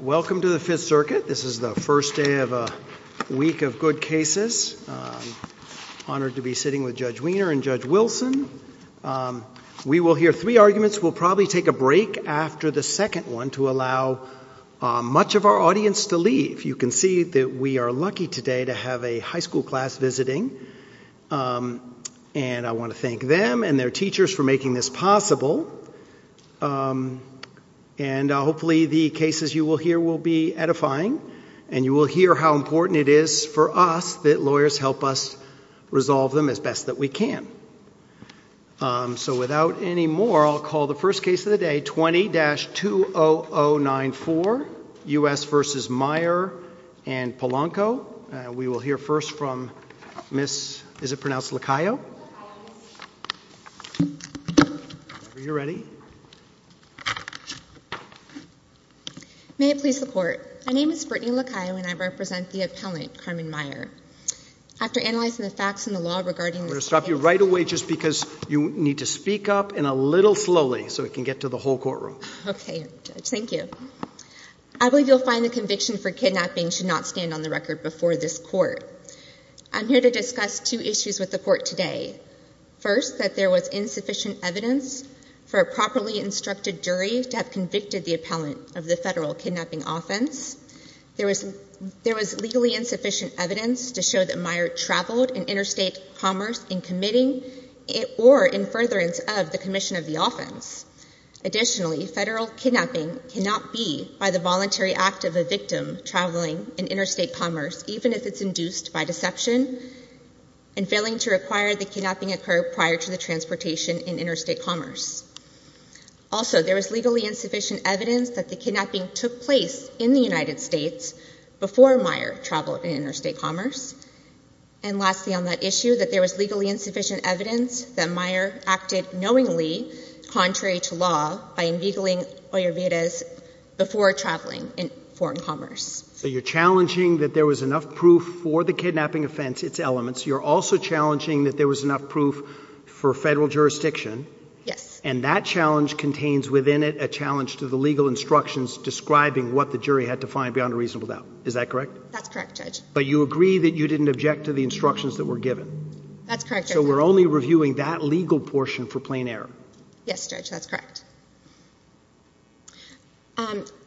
Welcome to the Fifth Circuit. This is the first day of a week of good cases. Honored to be sitting with Judge Wiener and Judge Wilson. We will hear three arguments. We'll probably take a break after the second one to allow much of our audience to leave. You can see that we are lucky today to have a high school class visiting and I want to thank them and their teachers for making this possible. And hopefully the cases you will hear will be edifying and you will hear how important it is for us that lawyers help us resolve them as best that we can. So without any more I'll call the first case of the day 20-20094 U.S. v. Meyer and Polanco. We will hear first from Ms. LaCaio. May it please the Court. My name is Brittany LaCaio and I represent the appellant Carmen Meyer. After analyzing the facts in the law regarding this case. We're going to stop you right away just because you need to speak up and a little slowly so we can get to the whole courtroom. Okay, thank you. I believe you'll find the conviction for kidnapping should not stand on the record before this court. I'm here to discuss two issues with the court today. First that there was insufficient evidence for a properly instructed jury to have convicted the appellant of the federal kidnapping offense. There was legally insufficient evidence to show that Meyer traveled in interstate commerce in committing or in furtherance of the commission of the offense. Additionally federal kidnapping cannot be by the voluntary act of a victim traveling in interstate commerce even if it's induced by deception and failing to require the kidnapping occur prior to the transportation in interstate commerce. Also there was legally insufficient evidence that the kidnapping took place in the United States before Meyer traveled in interstate commerce. And lastly on that the jury acted knowingly contrary to law by inveigling Ollivier's before traveling in foreign commerce. So you're challenging that there was enough proof for the kidnapping offense, its elements. You're also challenging that there was enough proof for federal jurisdiction. Yes. And that challenge contains within it a challenge to the legal instructions describing what the jury had to find beyond a reasonable doubt. Is that correct? That's correct, Judge. But you agree that you didn't object to the instructions that were given? That's correct, Judge. So we're only reviewing that legal portion for plain error? Yes, Judge, that's correct.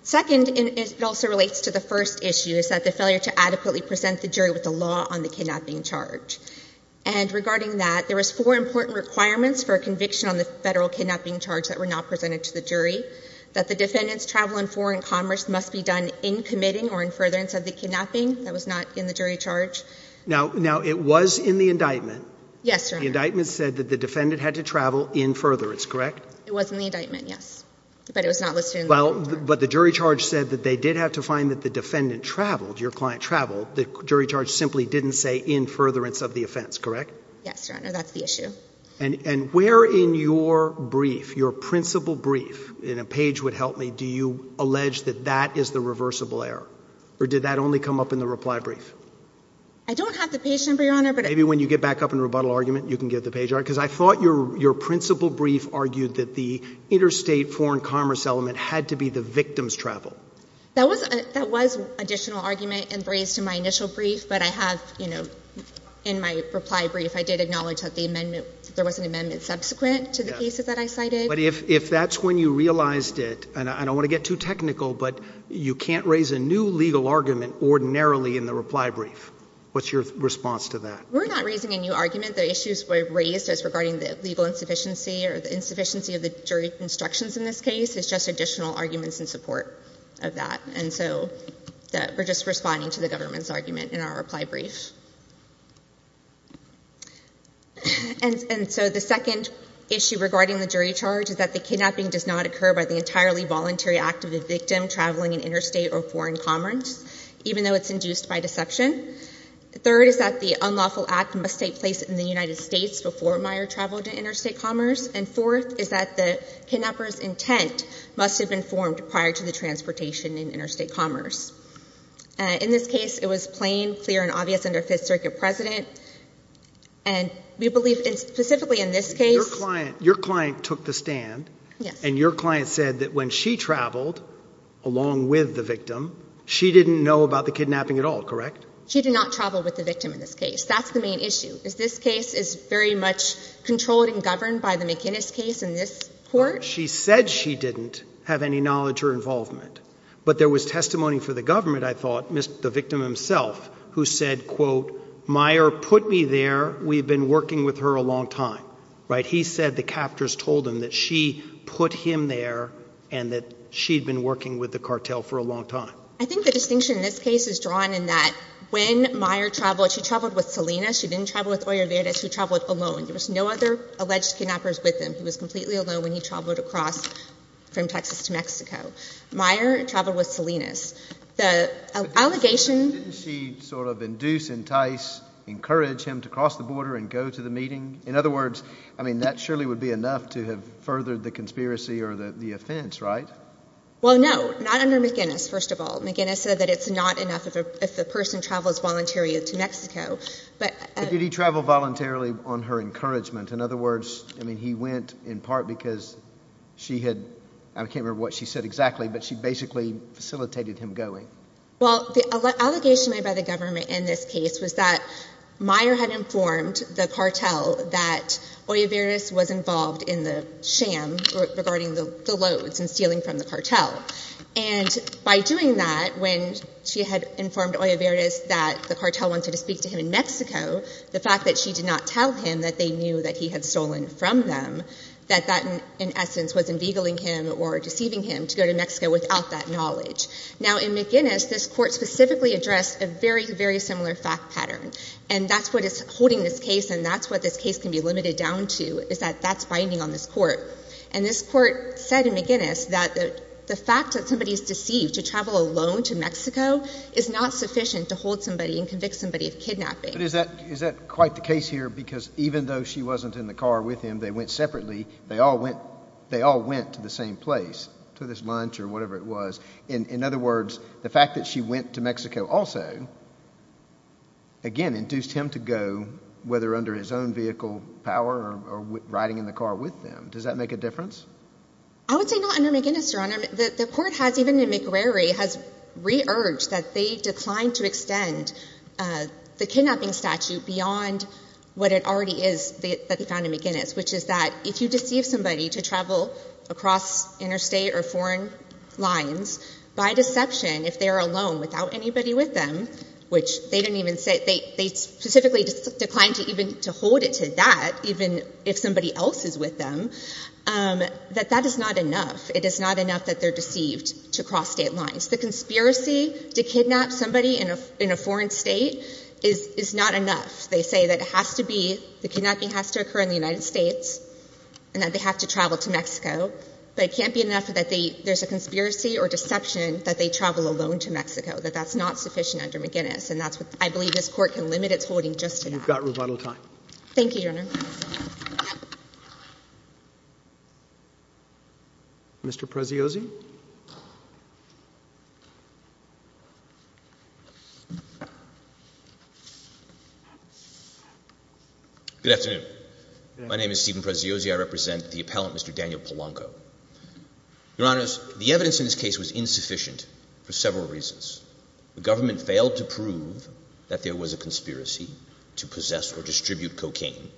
Second, and it also relates to the first issue, is that the failure to adequately present the jury with the law on the kidnapping charge. And regarding that there was four important requirements for a conviction on the federal kidnapping charge that were not presented to the jury. That the defendants travel in foreign commerce must be done in committing or in furtherance of the kidnapping that was not in the jury charge. Now it was in the indictment. Yes, Your Honor. The indictment said that the defendant had to travel in furtherance, correct? It was in the indictment, yes. But it was not listed in the indictment. Well, but the jury charge said that they did have to find that the defendant traveled, your client traveled. The jury charge simply didn't say in furtherance of the offense, correct? Yes, Your Honor, that's the issue. And where in your brief, your principal brief, in a page would help me, do you allege that that is the reversible error? Or did that only come up in the reply brief? I don't have the page. Maybe when you get back up in rebuttal argument you can get the page right. Because I thought your principal brief argued that the interstate foreign commerce element had to be the victim's travel. That was additional argument and raised in my initial brief, but I have, you know, in my reply brief I did acknowledge that the amendment, there was an amendment subsequent to the cases that I cited. But if that's when you realized it, and I don't want to get too technical, but you can't raise a new legal argument ordinarily in the reply brief. What's your response to that? We're not raising a new argument. The issues were raised as regarding the legal insufficiency or the insufficiency of the jury instructions in this case. It's just additional arguments in support of that. And so we're just responding to the government's argument in our reply brief. And so the second issue regarding the jury charge is that the kidnapping does not occur by the entirely voluntary act of the victim traveling an interstate or foreign commerce, even though it's induced by interception. The third is that the unlawful act must take place in the United States before Meyer traveled to interstate commerce. And fourth is that the kidnapper's intent must have been formed prior to the transportation in interstate commerce. In this case, it was plain, clear, and obvious under Fifth Circuit precedent. And we believe specifically in this case... Your client took the stand, and your client said that when she traveled along with the victim, she did not travel with the victim in this case. That's the main issue, is this case is very much controlled and governed by the McInnes case in this court? She said she didn't have any knowledge or involvement, but there was testimony for the government, I thought, the victim himself, who said, quote, Meyer put me there. We've been working with her a long time. Right? He said the captors told him that she put him there and that she'd been working with the cartel for a long time. I think the distinction in this case is drawn in that when Meyer traveled, she traveled with Salinas, she didn't travel with Olliveras, she traveled alone. There was no other alleged kidnappers with him. He was completely alone when he traveled across from Texas to Mexico. Meyer traveled with Salinas. The allegation... Didn't she sort of induce, entice, encourage him to cross the border and go to the meeting? In other words, I mean, that surely would be enough to have furthered the conspiracy or the offense, right? Well, no. Not under McInnes, first of all. McInnes said that it's not enough if a person travels voluntarily to Mexico. But did he travel voluntarily on her encouragement? In other words, I mean, he went in part because she had... I can't remember what she said exactly, but she basically facilitated him going. Well, the allegation made by the government in this case was that Meyer had informed the cartel that Olliveras was involved in the sham regarding the loads and that she had informed Olliveras that the cartel wanted to speak to him in Mexico. The fact that she did not tell him that they knew that he had stolen from them, that that, in essence, was enveigling him or deceiving him to go to Mexico without that knowledge. Now, in McInnes, this court specifically addressed a very, very similar fact pattern. And that's what is holding this case, and that's what this case can be limited down to, is that that's binding on this court. And this court said in McInnes that the fact that somebody is deceived to travel alone to Mexico is not sufficient to hold somebody and convict somebody of kidnapping. But is that quite the case here? Because even though she wasn't in the car with him, they went separately, they all went to the same place, to this lunch or whatever it was. In other words, the fact that she went to Mexico also, again, induced him to go, whether under his own vehicle power or riding in the car with them. Does that make a difference? I would say not under McInnes, Your Honor. The court has, even in McRary, has re-urged that they decline to extend the kidnapping statute beyond what it already is that they found in McInnes, which is that if you deceive somebody to travel across interstate or foreign lines, by deception, if they are alone without anybody with them, which they didn't even say, they specifically declined to even to hold it to that, even if somebody else is with them, that that is not enough. It is not enough that they're deceived to cross state lines. The conspiracy to kidnap somebody in a foreign state is not enough. They say that it has to be, the kidnapping has to occur in the United States and that they have to travel to Mexico. But it can't be enough that there's a conspiracy or deception that they travel alone to Mexico, that that's not sufficient under McInnes. And that's what I believe this court can limit its holding just to that. You've got rebuttal time. Thank you, Your Honor. Mr. Prezziosi. Good afternoon. My name is Stephen Prezziosi. I represent the appellant, Mr. Daniel Polanco. Your Honors, the evidence in this case was insufficient for several reasons. The government failed to prove that there was a conspiracy to distribute cocaine.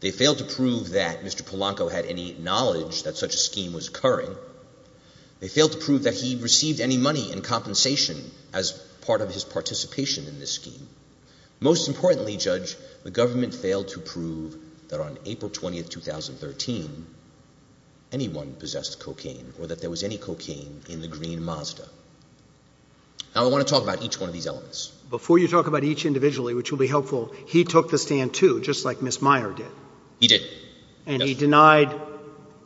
They failed to prove that Mr. Polanco had any knowledge that such a scheme was occurring. They failed to prove that he received any money in compensation as part of his participation in this scheme. Most importantly, Judge, the government failed to prove that on April 20, 2013, anyone possessed cocaine or that there was any cocaine in the green Mazda. Now, I want to talk about each one of these elements. Before you talk about each individually, which will be helpful, he took the stand too, just like Ms. Meyer did. He did. And he denied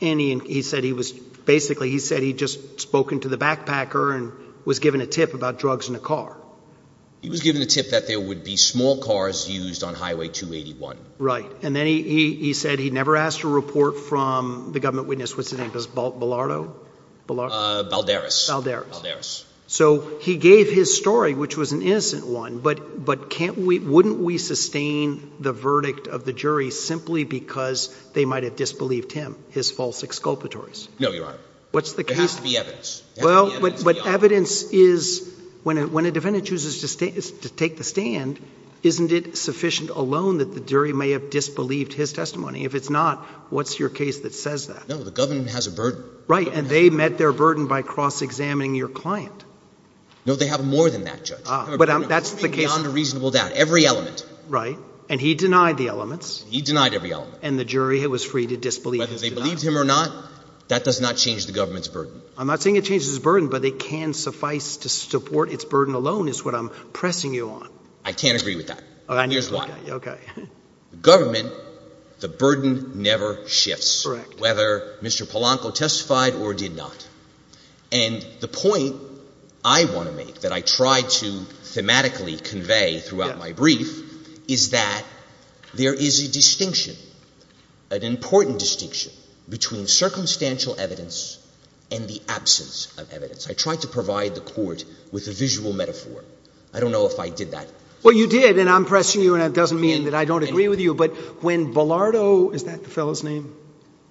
any, he said he was, basically he said he'd just spoken to the backpacker and was given a tip about drugs in a car. He was given a tip that there would be small cars used on Highway 281. Right. And then he said he never asked to report from the government witness, what's his name, Bilardo? Balderas. Balderas. Balderas. Balderas. So he gave his story, which was an innocent one, but can't we, wouldn't we simply because they might have disbelieved him, his false exculpatories? No, Your Honor. There has to be evidence. But evidence is, when a defendant chooses to take the stand, isn't it sufficient alone that the jury may have disbelieved his testimony? If it's not, what's your case that says that? No, the government has a burden. Right, and they met their burden by cross-examining your client. No, they have more than that, Judge. But that's the case. Beyond a reasonable doubt, every element. Right, and he denied the elements. He denied every element. And the jury was free to disbelieve his denial. Whether they believed him or not, that does not change the government's burden. I'm not saying it changes its burden, but it can suffice to support its burden alone is what I'm pressing you on. I can't agree with that. Here's why. Okay. The government, the burden never shifts. Correct. Whether Mr. Polanco testified or did not. And the point I want to make, that I try to thematically convey throughout my brief, is that there is a distinction, an important distinction, between circumstantial evidence and the absence of evidence. I tried to provide the court with a visual metaphor. I don't know if I did that. Well, you did, and I'm pressing you, and that doesn't mean that I don't agree with you, but when Ballardo, is that the fellow's name?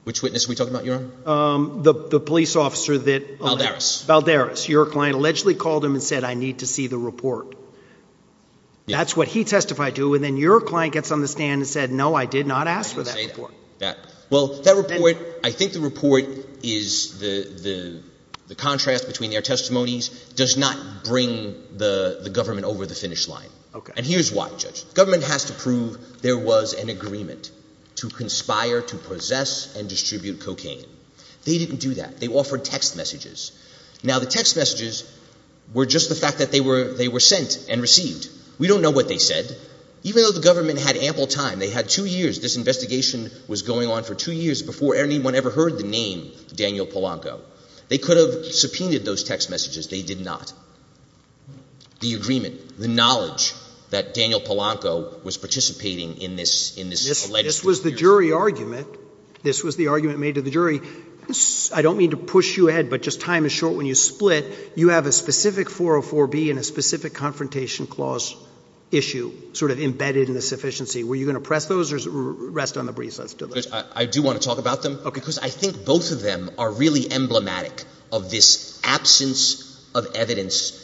Which witness are we talking about, Your Honor? The police officer that... Balderas. Balderas. Your client allegedly called him and said, I need to see the report. That's what he testified to, and then your client gets on the stand and said, no, I did not ask for that report. I didn't say that. Well, that report, I think the report is, the contrast between their testimonies does not bring the government over the finish line. Okay. And here's why, Judge. The government has to prove there was an agreement to conspire to possess and distribute cocaine. They didn't do that. They offered text messages. Now, the text messages were just the fact that they were sent and received. We don't know what they said. Even though the government had ample time, they had two years, this investigation was going on for two years before anyone ever heard the name Daniel Polanco. They could have subpoenaed those text messages. They did not. The agreement, the knowledge that Daniel Polanco was participating in this alleged... This was the jury argument. This was the argument made to the jury. I don't mean to push you ahead, but just time is short when you split. You have a specific 404B and a specific confrontation clause issue sort of embedded in the sufficiency. Were you going to press those or rest on the breeze? Let's do those. I do want to talk about them. Okay. Because I think both of them are really emblematic of this absence of evidence.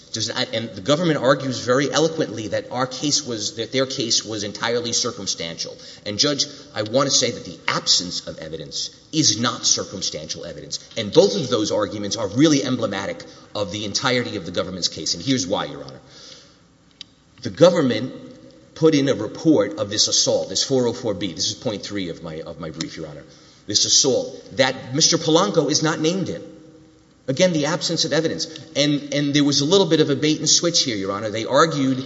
And the government argues very eloquently that our case was, that their case was entirely circumstantial. And Judge, I want to say that the absence of evidence is not circumstantial evidence. And both of those arguments are really emblematic of the entirety of the government's case. And here's why, Your Honor. The government put in a report of this assault, this 404B. This is point three of my brief, Your Honor. This assault that Mr. Polanco is not named in. Again, the absence of evidence. And there was a little bit of a bait and switch here, Your Honor. They argued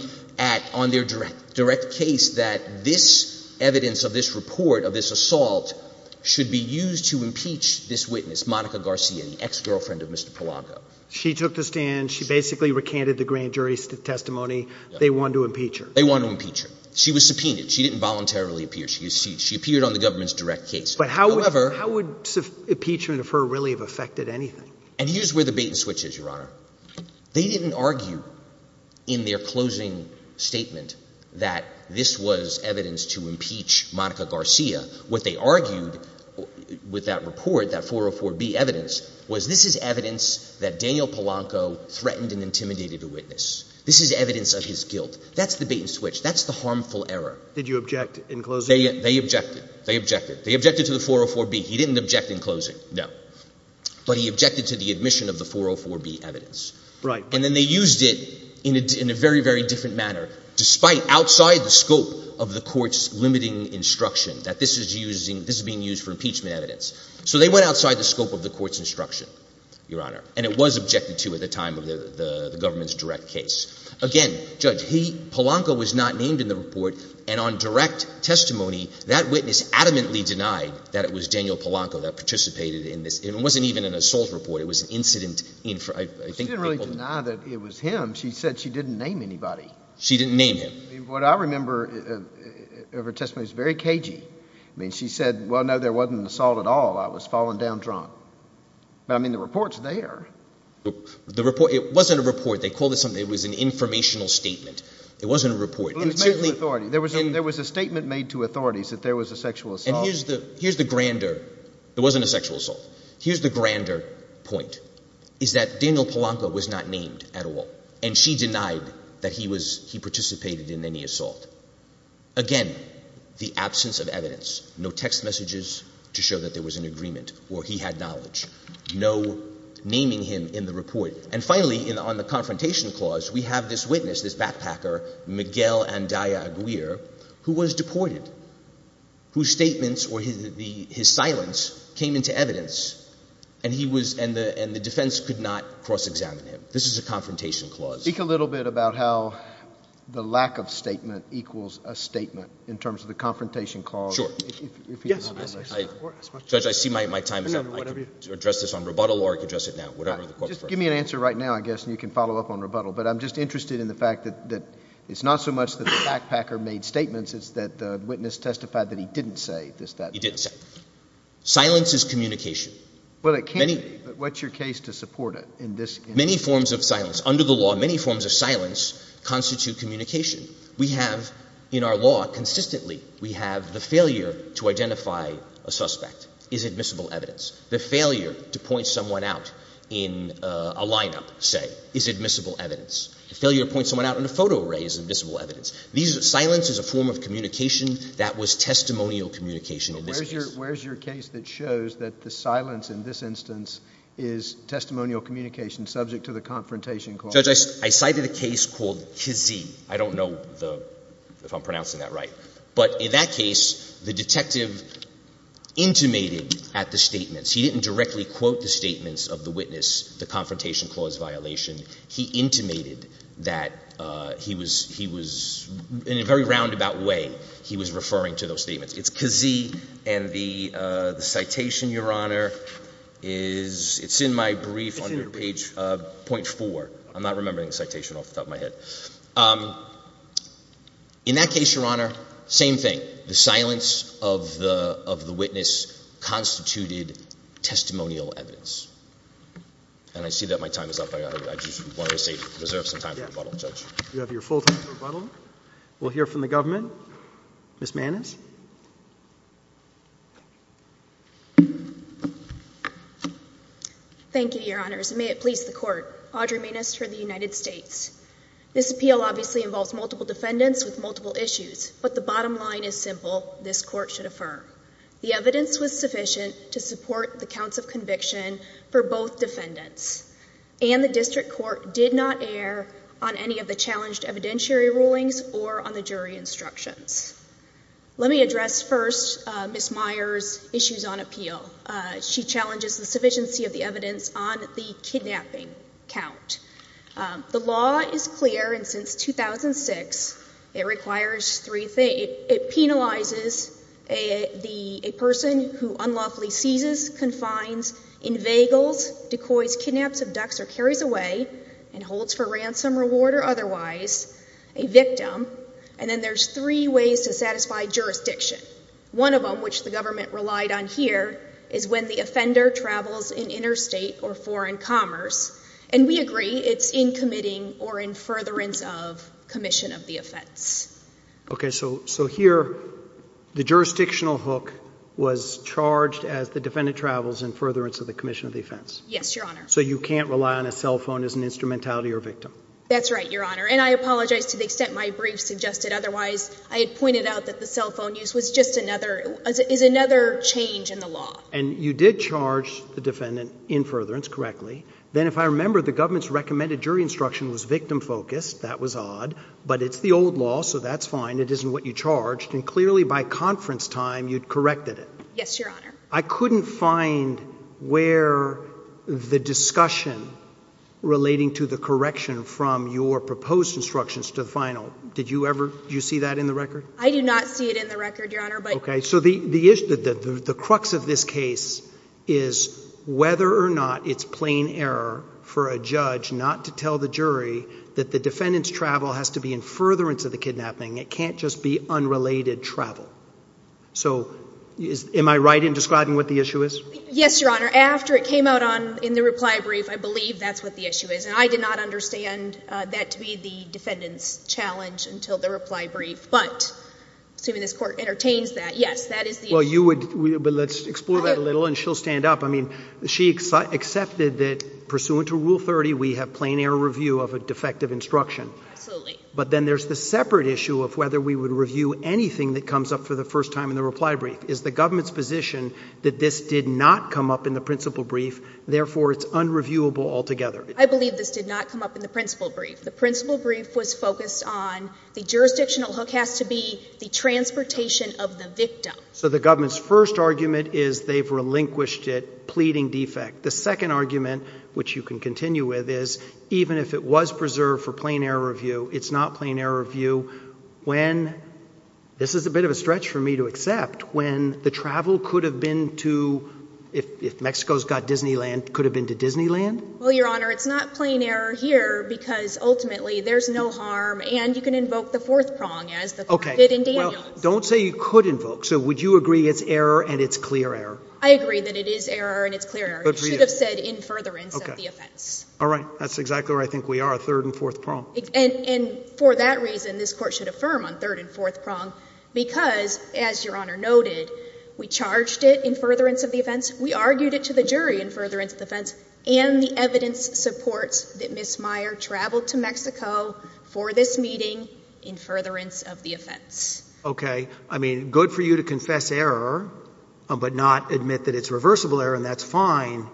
on their direct case that this evidence of this report of this assault should be used to impeach this witness, Monica Garcia, the ex-girlfriend of Mr. Polanco. She took the stand. She basically recanted the grand jury's testimony. They wanted to impeach her. They wanted to impeach her. She was subpoenaed. She didn't voluntarily appear. She appeared on the government's direct case. But how would impeachment of her really have affected anything? And here's where the bait and switch is, Your Honor. They didn't argue in their closing statement that this was evidence to impeach Monica Garcia. What they argued with that report, that 404B evidence, was this is evidence that Daniel Polanco threatened and intimidated a witness. This is evidence of his guilt. That's the bait and switch. That's the harmful error. Did you object in closing? They objected. They objected. They objected to the 404B. He didn't object in closing. No. But he objected to the admission of the 404B evidence. Right. And then they used it in a very, very different manner, despite outside the scope of the court's limiting instruction that this is being used for impeachment evidence. So they went outside the scope of the court's instruction, Your Honor. And it was objected to at the time of the government's direct case. Again, Judge, Polanco was not named in the report. And on direct testimony, that witness adamantly denied that it was Daniel Polanco that participated in this. It wasn't even an assault report. It was an incident. She didn't really deny that it was him. She said she didn't name anybody. She didn't name him. What I remember of her testimony was very cagey. She said, well, no, there wasn't an assault at all. I was falling down drunk. But, I mean, the report's there. The report, it wasn't a report. They called it something. It was an informational statement. It wasn't a report. There was a statement made to authorities that there was a sexual assault. And here's the grander – it wasn't a sexual assault. Here's the grander point, is that Daniel Polanco was not named at all. And she denied that he participated in any assault. Again, the absence of evidence. No text messages to show that there was an agreement or he had knowledge. No naming him in the report. And finally, on the Confrontation Clause, we have this witness, this backpacker, Miguel Andaya Aguirre, who was deported, whose statements or his silence came into evidence, and the defense could not cross-examine him. This is a Confrontation Clause. Speak a little bit about how the lack of statement equals a statement in terms of the Confrontation Clause. Sure. Judge, I see my time is up. I can address this on rebuttal or I can address it now. Just give me an answer right now, I guess, and you can follow up on rebuttal. But I'm just interested in the fact that it's not so much that the backpacker made statements, it's that the witness testified that he didn't say this, that. He didn't say. Silence is communication. Well, it can be, but what's your case to support it in this instance? Many forms of silence. Under the law, many forms of silence constitute communication. We have in our law, consistently, we have the failure to identify a suspect is admissible evidence. The failure to point someone out in a lineup, say, is admissible evidence. The failure to point someone out in a photo array is admissible evidence. Silence is a form of communication that was testimonial communication in this case. Where is your case that shows that the silence in this instance is testimonial communication subject to the Confrontation Clause? Judge, I cited a case called Kazee. I don't know if I'm pronouncing that right. But in that case, the detective intimated at the statements. He didn't directly quote the statements of the witness, the Confrontation Clause violation. He intimated that he was, in a very roundabout way, he was referring to those statements. It's Kazee, and the citation, Your Honor, is, it's in my brief under page .4. I'm not remembering the citation off the top of my head. In that case, Your Honor, same thing. The silence of the witness constituted testimonial evidence. And I see that my time is up. I just wanted to reserve some time for rebuttal, Judge. You have your full time for rebuttal. We'll hear from the government. Ms. Mannis. Thank you, Your Honors, and may it please the Court. Audrey Mannis for the United States. This appeal obviously involves multiple defendants with multiple issues. But the bottom line is simple, this Court should affirm. The evidence was sufficient to support the counts of conviction for both defendants. And the District Court did not err on any of the challenged evidentiary rulings or on the jury instructions. Let me address first Ms. Meyer's issues on appeal. She challenges the sufficiency of the evidence on the kidnapping count. The law is clear, and since 2006, it penalizes a person who unlawfully seizes, confines, inveigles, decoys, kidnaps, abducts, or carries away, and holds for ransom, reward, or otherwise, a victim. And then there's three ways to satisfy jurisdiction. One of them, which the government relied on here, is when the offender travels in interstate or foreign commerce. And we agree, it's in committing or in furtherance of commission of the offense. Okay, so here, the jurisdictional hook was charged as the defendant travels in furtherance of the commission of the offense? Yes, Your Honor. So you can't rely on a cell phone as an instrumentality or victim? That's right, Your Honor. And I apologize to the extent my brief suggested otherwise. I had pointed out that the cell phone use was just another, is another change in the law. And you did charge the defendant in furtherance correctly. Then if I remember, the government's recommended jury instruction was victim focused. That was odd. But it's the old law, so that's fine. It isn't what you charged. And clearly, by conference time, you'd corrected it. Yes, Your Honor. I couldn't find where the discussion relating to the correction from your proposed instructions to the final. Did you ever, do you see that in the record? I do not see it in the record, Your Honor. Okay, so the crux of this case is whether or not it's plain error for a judge not to tell the jury that the defendant's travel has to be in furtherance of the kidnapping. It can't just be unrelated travel. So, am I right in describing what the issue is? Yes, Your Honor. After it came out in the reply brief, I believe that's what the issue is. And I did not understand that to be the defendant's challenge until the reply brief. But, assuming this Court entertains that, yes, that is the issue. Well, you would, but let's explore that a little and she'll stand up. I mean, she accepted that pursuant to Rule 30, we have plain error review of a defective instruction. Absolutely. But then there's the separate issue of whether we would review anything that comes up for the first time in the reply brief. Is the government's position that this did not come up in the principle brief, therefore it's unreviewable altogether? I believe this did not come up in the principle brief. The principle brief was focused on the jurisdictional hook has to be the transportation of the victim. So, the government's first argument is they've relinquished it, pleading defect. The second argument, which you can continue with, is even if it was preserved for plain error review, it's not plain error review when, this is a bit of a stretch for me to accept, when the travel could have been to, if Mexico's got Disneyland, could have been to Disneyland? Well, Your Honor, it's not plain error here because ultimately there's no harm and you can invoke the fourth prong as the court did in Daniels. Okay. Well, don't say you could invoke. So, would you agree it's error and it's clear error? I agree that it is error and it's clear error. It should have said in furtherance of the offense. Okay. All right. That's exactly where I think we are, third and fourth prong. And for that reason, this Court should affirm on third and fourth prong because, as Your Honor noted, we charged it in furtherance of the offense, we argued it to the jury in furtherance of the offense and the evidence supports that Ms. Meyer traveled to Mexico for this meeting in furtherance of the offense. Okay. I mean, good for you to confess error but not admit that it's reversible error and that's fine.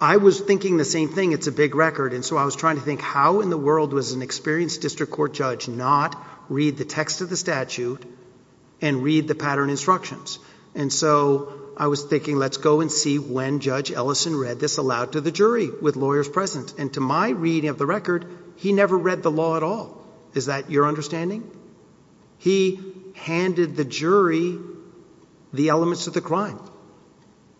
I was thinking the same thing. It's a big record and so I was trying to think how in the world was an experienced district court judge not read the text of the statute and read the pattern instructions? And so, I was thinking let's go and see when Judge Ellison read this aloud to the jury with lawyers present and to my reading of the record, he never read the law at all. Is that your understanding? He handed the jury the elements of the crime.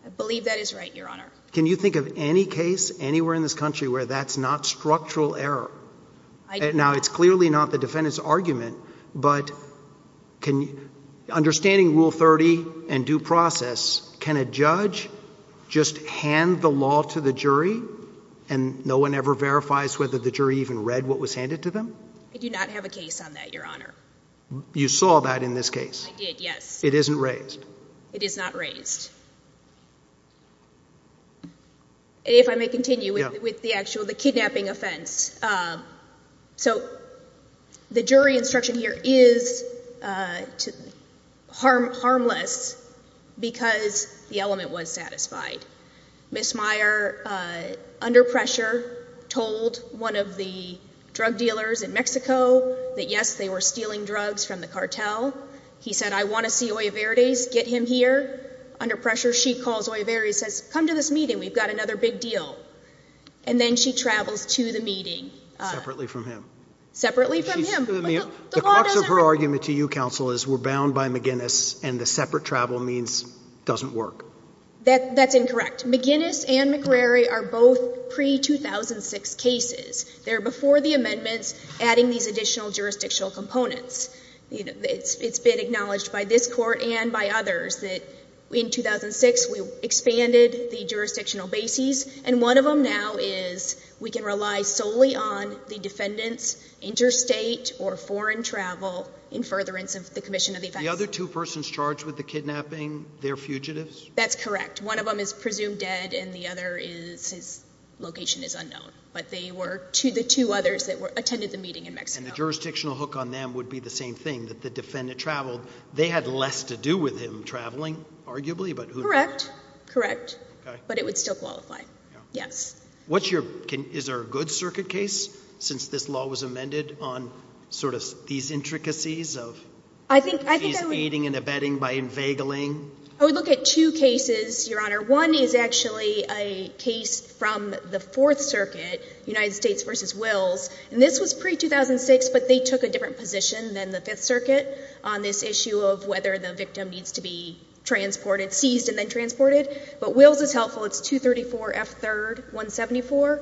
I believe that is right, Your Honor. Can you think of any case anywhere in this country where that's not structural error? Now, it's clearly not the defendant's argument but understanding Rule 30 and due process, can a judge just hand the law to the jury and no one ever verifies whether the jury even read what was handed to them? I do not have a case on that, Your Honor. You saw that in this case? I did, yes. It isn't raised? It is not raised. If I may continue with the kidnapping offense. So, the jury instruction here is harmless because the element was satisfied. Ms. Meyer, under pressure, told one of the drug dealers in Mexico that yes, they were stealing drugs from the cartel. He said, I want to see Oliverde's, get him here. Under pressure, she calls Oliverde and says, come to this meeting, we've got another big deal. And then she travels to the meeting. Separately from him? Separately from him. The crux of her argument to you, Counsel, is we're bound by McGinnis and the separate travel means it doesn't work. That's incorrect. McGinnis and McCrary are both pre-2006 cases. They're before the amendments adding these additional jurisdictional components. It's been acknowledged by this Court and by others that in 2006, we expanded the jurisdictional bases and one of them now is we can rely solely on the defendant's interstate or foreign travel in furtherance of the commission of the offense. The other two persons charged with the kidnapping, they're fugitives? That's correct. One of them is presumed dead and the other is, his location is unknown. But they were the two others that attended the meeting in Mexico. And the jurisdictional hook on them would be the same thing, that the defendant traveled. They had less to do with him traveling, arguably. Correct. Correct. But it would still qualify. Yes. What's your, is there a good circuit case since this law was amended on sort of these intricacies of fees aiding and abetting by inveigling? I would look at two cases, Your Honor. One is actually a case from the Fourth Circuit, United States v. Wills. And this was pre-2006, but they took a different position than the Fifth Circuit on this issue of whether the victim needs to be transported, seized and then transported. But Wills is helpful. It's 234 F. 3rd, 174.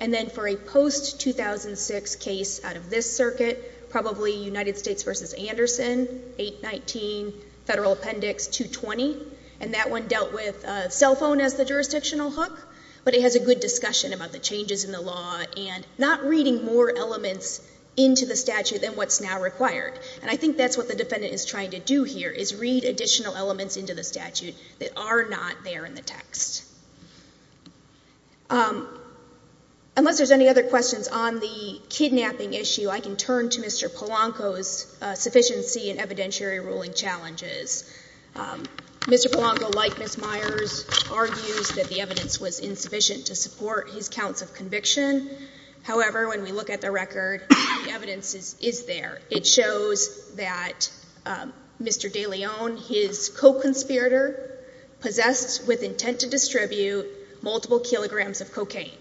And then for a post-2006 case out of this circuit, probably United States v. Anderson, 819 Federal Appendix 220. And that one dealt with a cell phone as the jurisdictional hook. But it has a good discussion about the changes in the law and not reading more elements into the statute than what's now required. And I think that's what the defendant is trying to do here, is read additional elements into the statute that are not there in the text. Unless there's any other questions on the kidnapping issue, I can turn to Mr. Polanco's sufficiency in evidentiary ruling challenges. Mr. Polanco, like Ms. Myers, argues that the evidence was insufficient to support his counts of conviction. However, when we look at the record, the evidence is there. It shows that Mr. DeLeon, his co-conspirator, possessed with intent to distribute multiple kilograms of cocaine.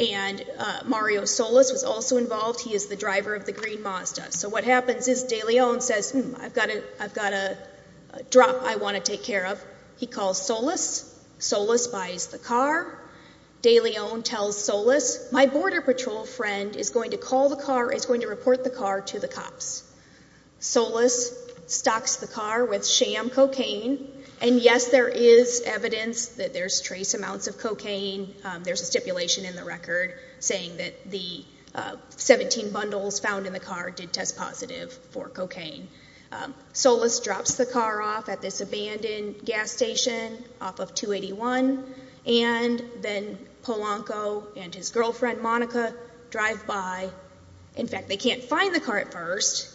And Mario Solis was also involved. He is the driver of the green Mazda. So what happens is, DeLeon says, I've got a drop I want to take care of. He calls Solis. Solis buys the car. DeLeon tells Solis, my border patrol friend is going to call the car, is going to report the car to the cops. Solis stocks the car with sham cocaine. And yes, there is evidence that there's trace amounts of cocaine. There's a stipulation in the record saying that the 17 bundles found in the car did test positive for cocaine. Solis drops the car off at this abandoned gas station off of 281. And then Polanco and his girlfriend, Monica, drive by. In fact, they can't find the car at first.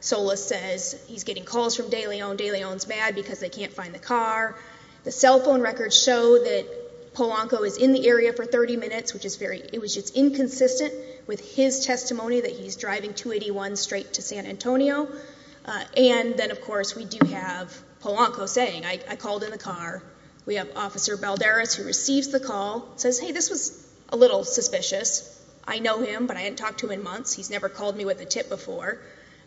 Solis says he's getting calls from DeLeon. DeLeon's mad because they can't find the car. The cell phone records show that Polanco is in the area for 30 minutes, which is inconsistent with his testimony that he's driving 281 straight to San Antonio. And then, of course, we do have Polanco saying, I called in the car. We have Officer Balderas who receives the call. Says, hey, this was a little suspicious. I know him, but I haven't talked to him in months. He's never called me with a tip before.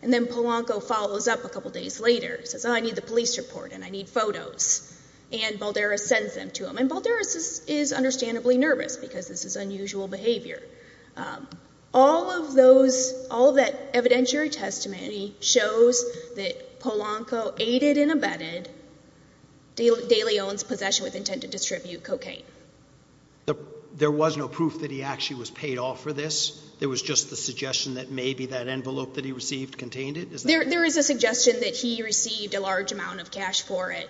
And then Polanco follows up a couple days later. Says, oh, I need the police report and I need photos. And Balderas sends them to him. And Balderas is understandably nervous because this is unusual behavior. All of those, all that evidentiary testimony shows that Polanco aided and abetted DeLeon's possession with intent to distribute cocaine. There was no proof that he actually was paid off for this. There was just the suggestion that maybe that envelope that he received contained it? There is a suggestion that he received a large amount of cash for it.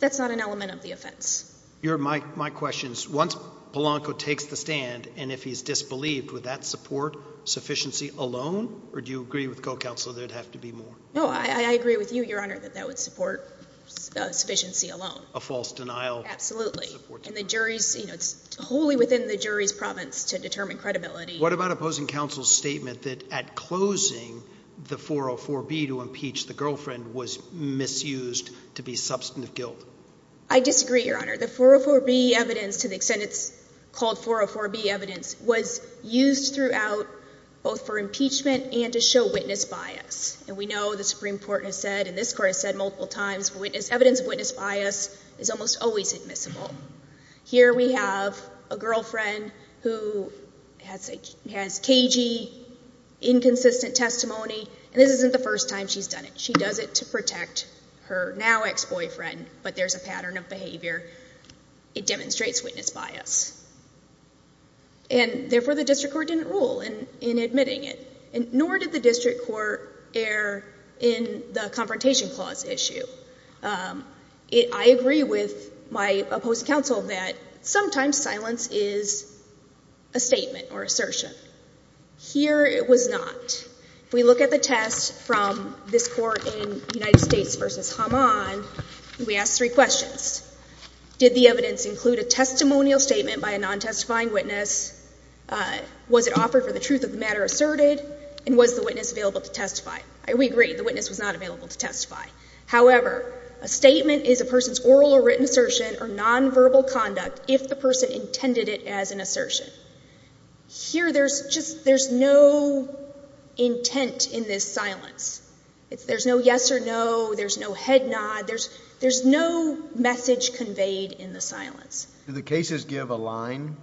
That's not an element of the offense. My question is, once Polanco takes the stand and if he's disbelieved, would that support sufficiency alone? Or do you agree with co-counsel that it would have to be more? No, I agree with you, Your Honor, that that would support sufficiency alone. A false denial? Absolutely. And the jury's, it's wholly within the jury's province to determine credibility. What about opposing counsel's statement that at closing the 404B to impeach the girlfriend was misused to be substantive guilt? I disagree, Your Honor. The 404B evidence to the extent it's called 404B evidence was used throughout both for impeachment and to show witness bias. And we know the Supreme Court has said and this Court has said multiple times evidence of witness bias is almost always admissible. Here we have a girlfriend who has cagey inconsistent testimony and this isn't the first time she's done it. She does it to protect her now ex-boyfriend but there's a pattern of behavior it demonstrates witness bias. And therefore the district court didn't rule in admitting it. Nor did the district court err in the confrontation clause issue. I agree with my opposing counsel that sometimes silence is a statement or assertion. Here it was not. If we look at the test from this Court in United States versus Haman we ask three questions. Did the evidence include a testimonial statement by a non-testifying witness? Was it offered for the truth of the matter asserted? And was the witness available to testify? We agree the witness was not available to testify. However a statement is a person's oral or written assertion or non-verbal conduct if the person intended it as an assertion. Here there's no intent in this silence. There's no yes or no there's no head nod there's no message conveyed in the silence. Do the cases give a line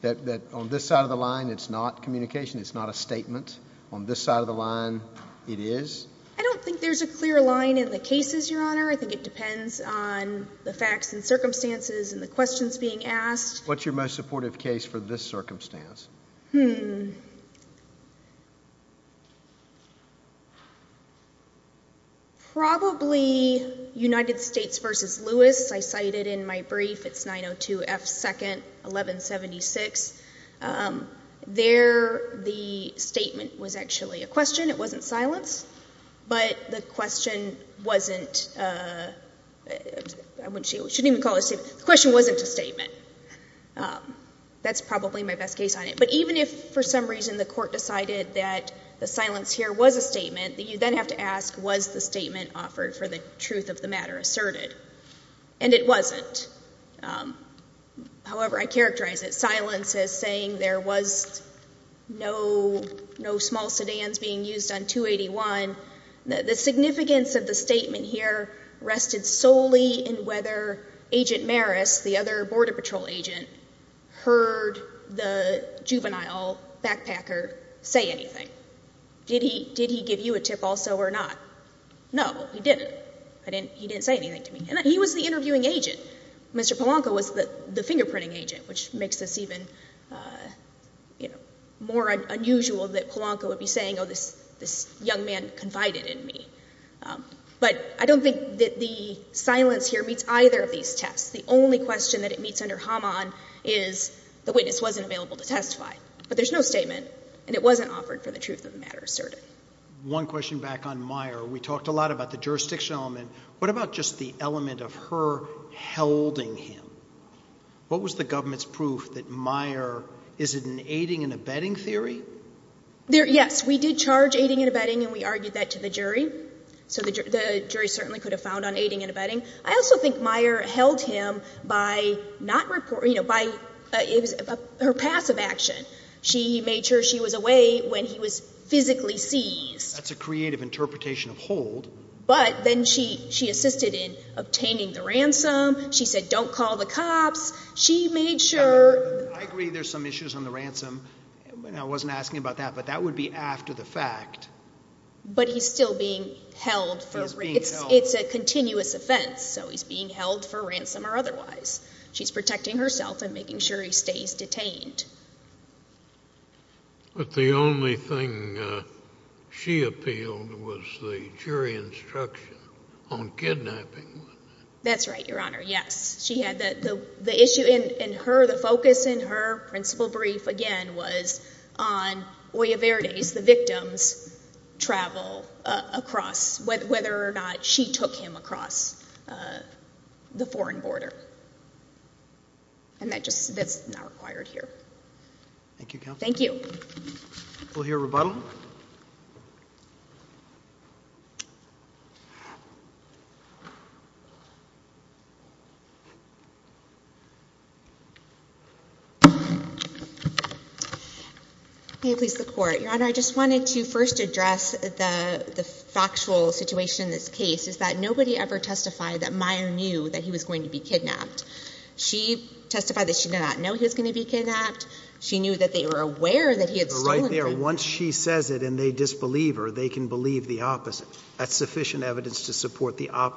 that on this side of the line it's not communication it's not a statement on this side of the line it is? I don't think there's a clear line in the cases your honor. I think it depends on the facts and circumstances and the questions being asked. What's your most supportive case for this circumstance? Hmm probably United States versus Lewis I cited in my brief it's 902 F. 2nd 1176 there the statement was actually a question it wasn't silence but the question wasn't I wouldn't shouldn't even call it a statement the question wasn't a statement that's probably my best case on it but even if for some reason the court decided that the silence here was a statement that you then have to ask was the statement offered for the truth of the matter asserted and it wasn't however I characterize it silence as saying there was no small sedans being used on 281 the significance of the statement here rested solely in whether agent Maris the other border patrol agent heard the juvenile backpacker say anything did he did he give you a tip also or not no he didn't he didn't say anything to me he was the I don't think that the silence here meets either of these tests the only question that it meets under Haman is the witness wasn't available to testify but there's no statement and it wasn't offered for the truth of the matter asserted one question back on Meier we talked a lot about the jurisdiction element what about just the element of her holding him what was the government's proof that Meier is it an aiding and abetting theory yes we did charge aiding and abetting and we argued that to the jury so the jury certainly could have found on aiding and abetting I also think Meier held him by not you know by her passive action she made sure she was away when he was physically seized that's a creative interpretation of hold but then she assisted in obtaining the ransom she said don't call the cops she made sure I agree there's some issues on the ransom I wasn't asking about that but that would be after the fact but he's still being held it's a continuous offense so he's being held for ransom or otherwise she's protecting herself and making sure he stays detained but the only thing she appealed was the jury instruction on kidnapping that's right your honor yes she had the issue in her the focus in her principle brief again was on the victims travel across whether or not she took him across the foreign border and that's not here thank you we'll hear rebuttal please the court your honor I just wanted to first address the the factual situation nobody ever testified that he was going to be kidnapped once she says it and they disbelieve her they can believe the opposite sufficient evidence to support her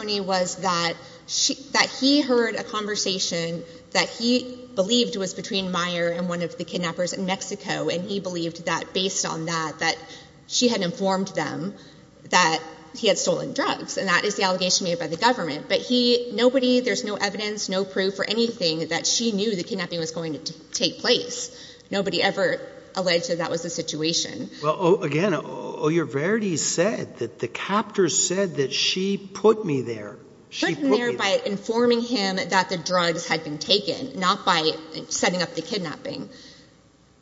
testimony was that that he heard a conversation that he believed was between meyer and one of the kidnappers in mexico and he believed that based on that she had informed that he had stolen drugs nobody there's no evidence that she knew that that was the situation again said that she put me there informing him that the drugs had been taken not by setting up the kidnapping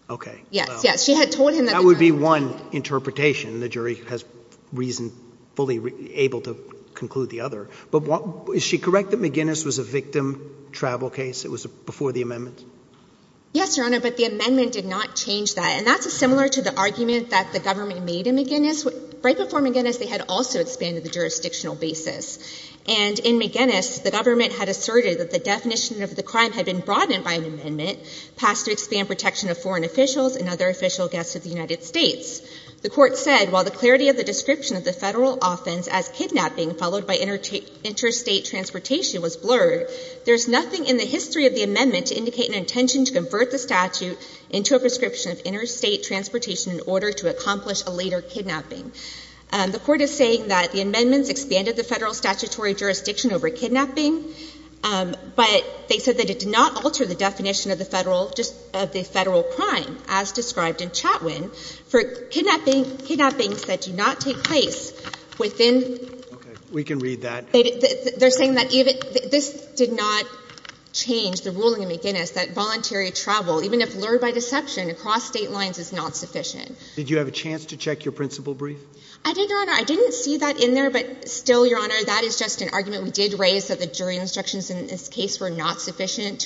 okay yes yes she had told him that that would be one interpretation the jury has reason fully able to conclude the other but what is she correct is the likely case that the victim travel case before that yes but that is the argument that made right before the basis the government said that the definition of the crime had been broadened by an amendment passed to expand protection of foreign officials and other official guests of the United States. The court said while the clarity of the description of the federal offense as kidnapping followed by interstate transportation was blurred there is nothing in the history of the amendment to indicate an intention to convert the statute into a prescription of interstate transportation in order to reduce on the public. The court said the jury instructions were not sufficient.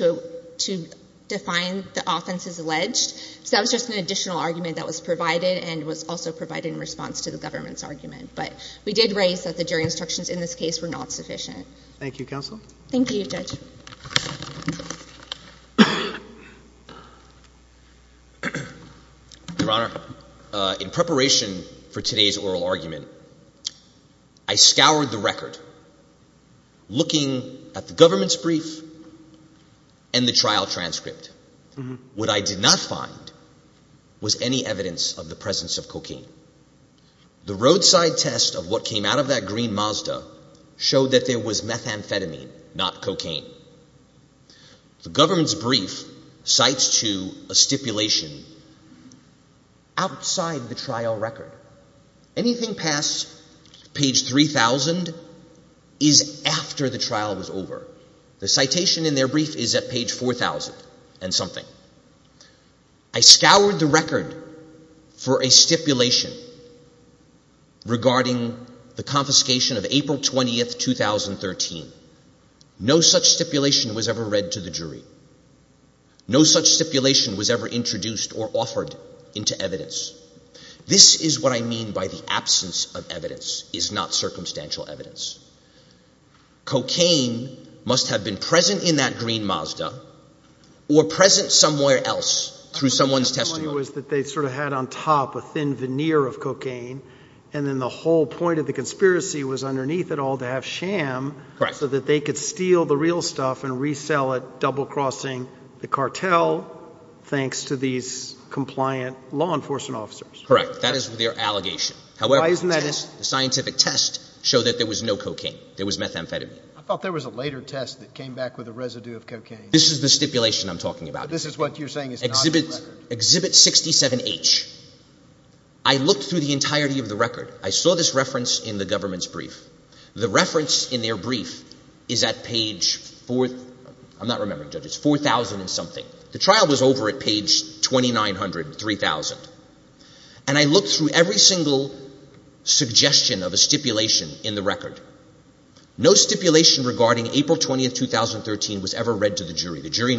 In preparation for today's oral argument, I scoured the record looking at the government's brief and the trial transcript. What I did not find was any evidence of the presence of cocaine. The roadside test showed that there was methamphetamine not cocaine. The government's brief cites to a stipulation outside the trial record. Anything past page 3,000 is after the trial was over. The citation in their brief is at page 4,000 and something. I scoured the record for a stipulation regarding the confiscation of April 20, 2013. No such stipulation was ever read to the government. did not find any evidence of cocaine being present in that green Mazda or present somewhere else. They had a thin veneer of cocaine and the conspiracy was to have no cocaine. There was methamphetamine. This is the stipulation I'm talking about. 67H. I looked through the entirety of the record. I saw this reference in the government's brief. The reference in their brief is at page 4,000 something. The trial was over at page 2,900 or 3,000. I looked through every single stipulation in the record. No stipulation regarding April 20, 2013 was ever read to the jury. Do you agree the jury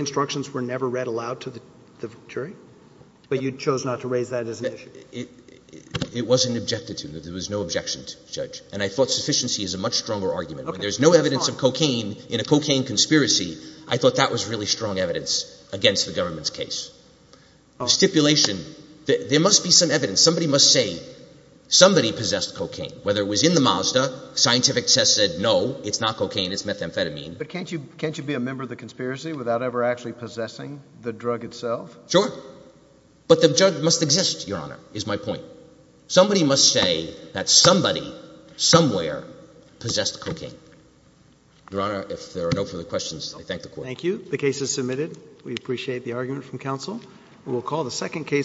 instructions were never read aloud to the jury? You chose not to raise that as an issue. It wasn't objected to. I thought sufficiency is a much stronger argument. I thought that was strong in I did not hold the evidence against the government's case. Stipulation there must be evidence. Somebody must say somebody possessed cocaine. It was not cocaine. Can't you be a member of the committee on drugs? believe silly. I think it is wrong. I think there must be evidence for it. The evidence must be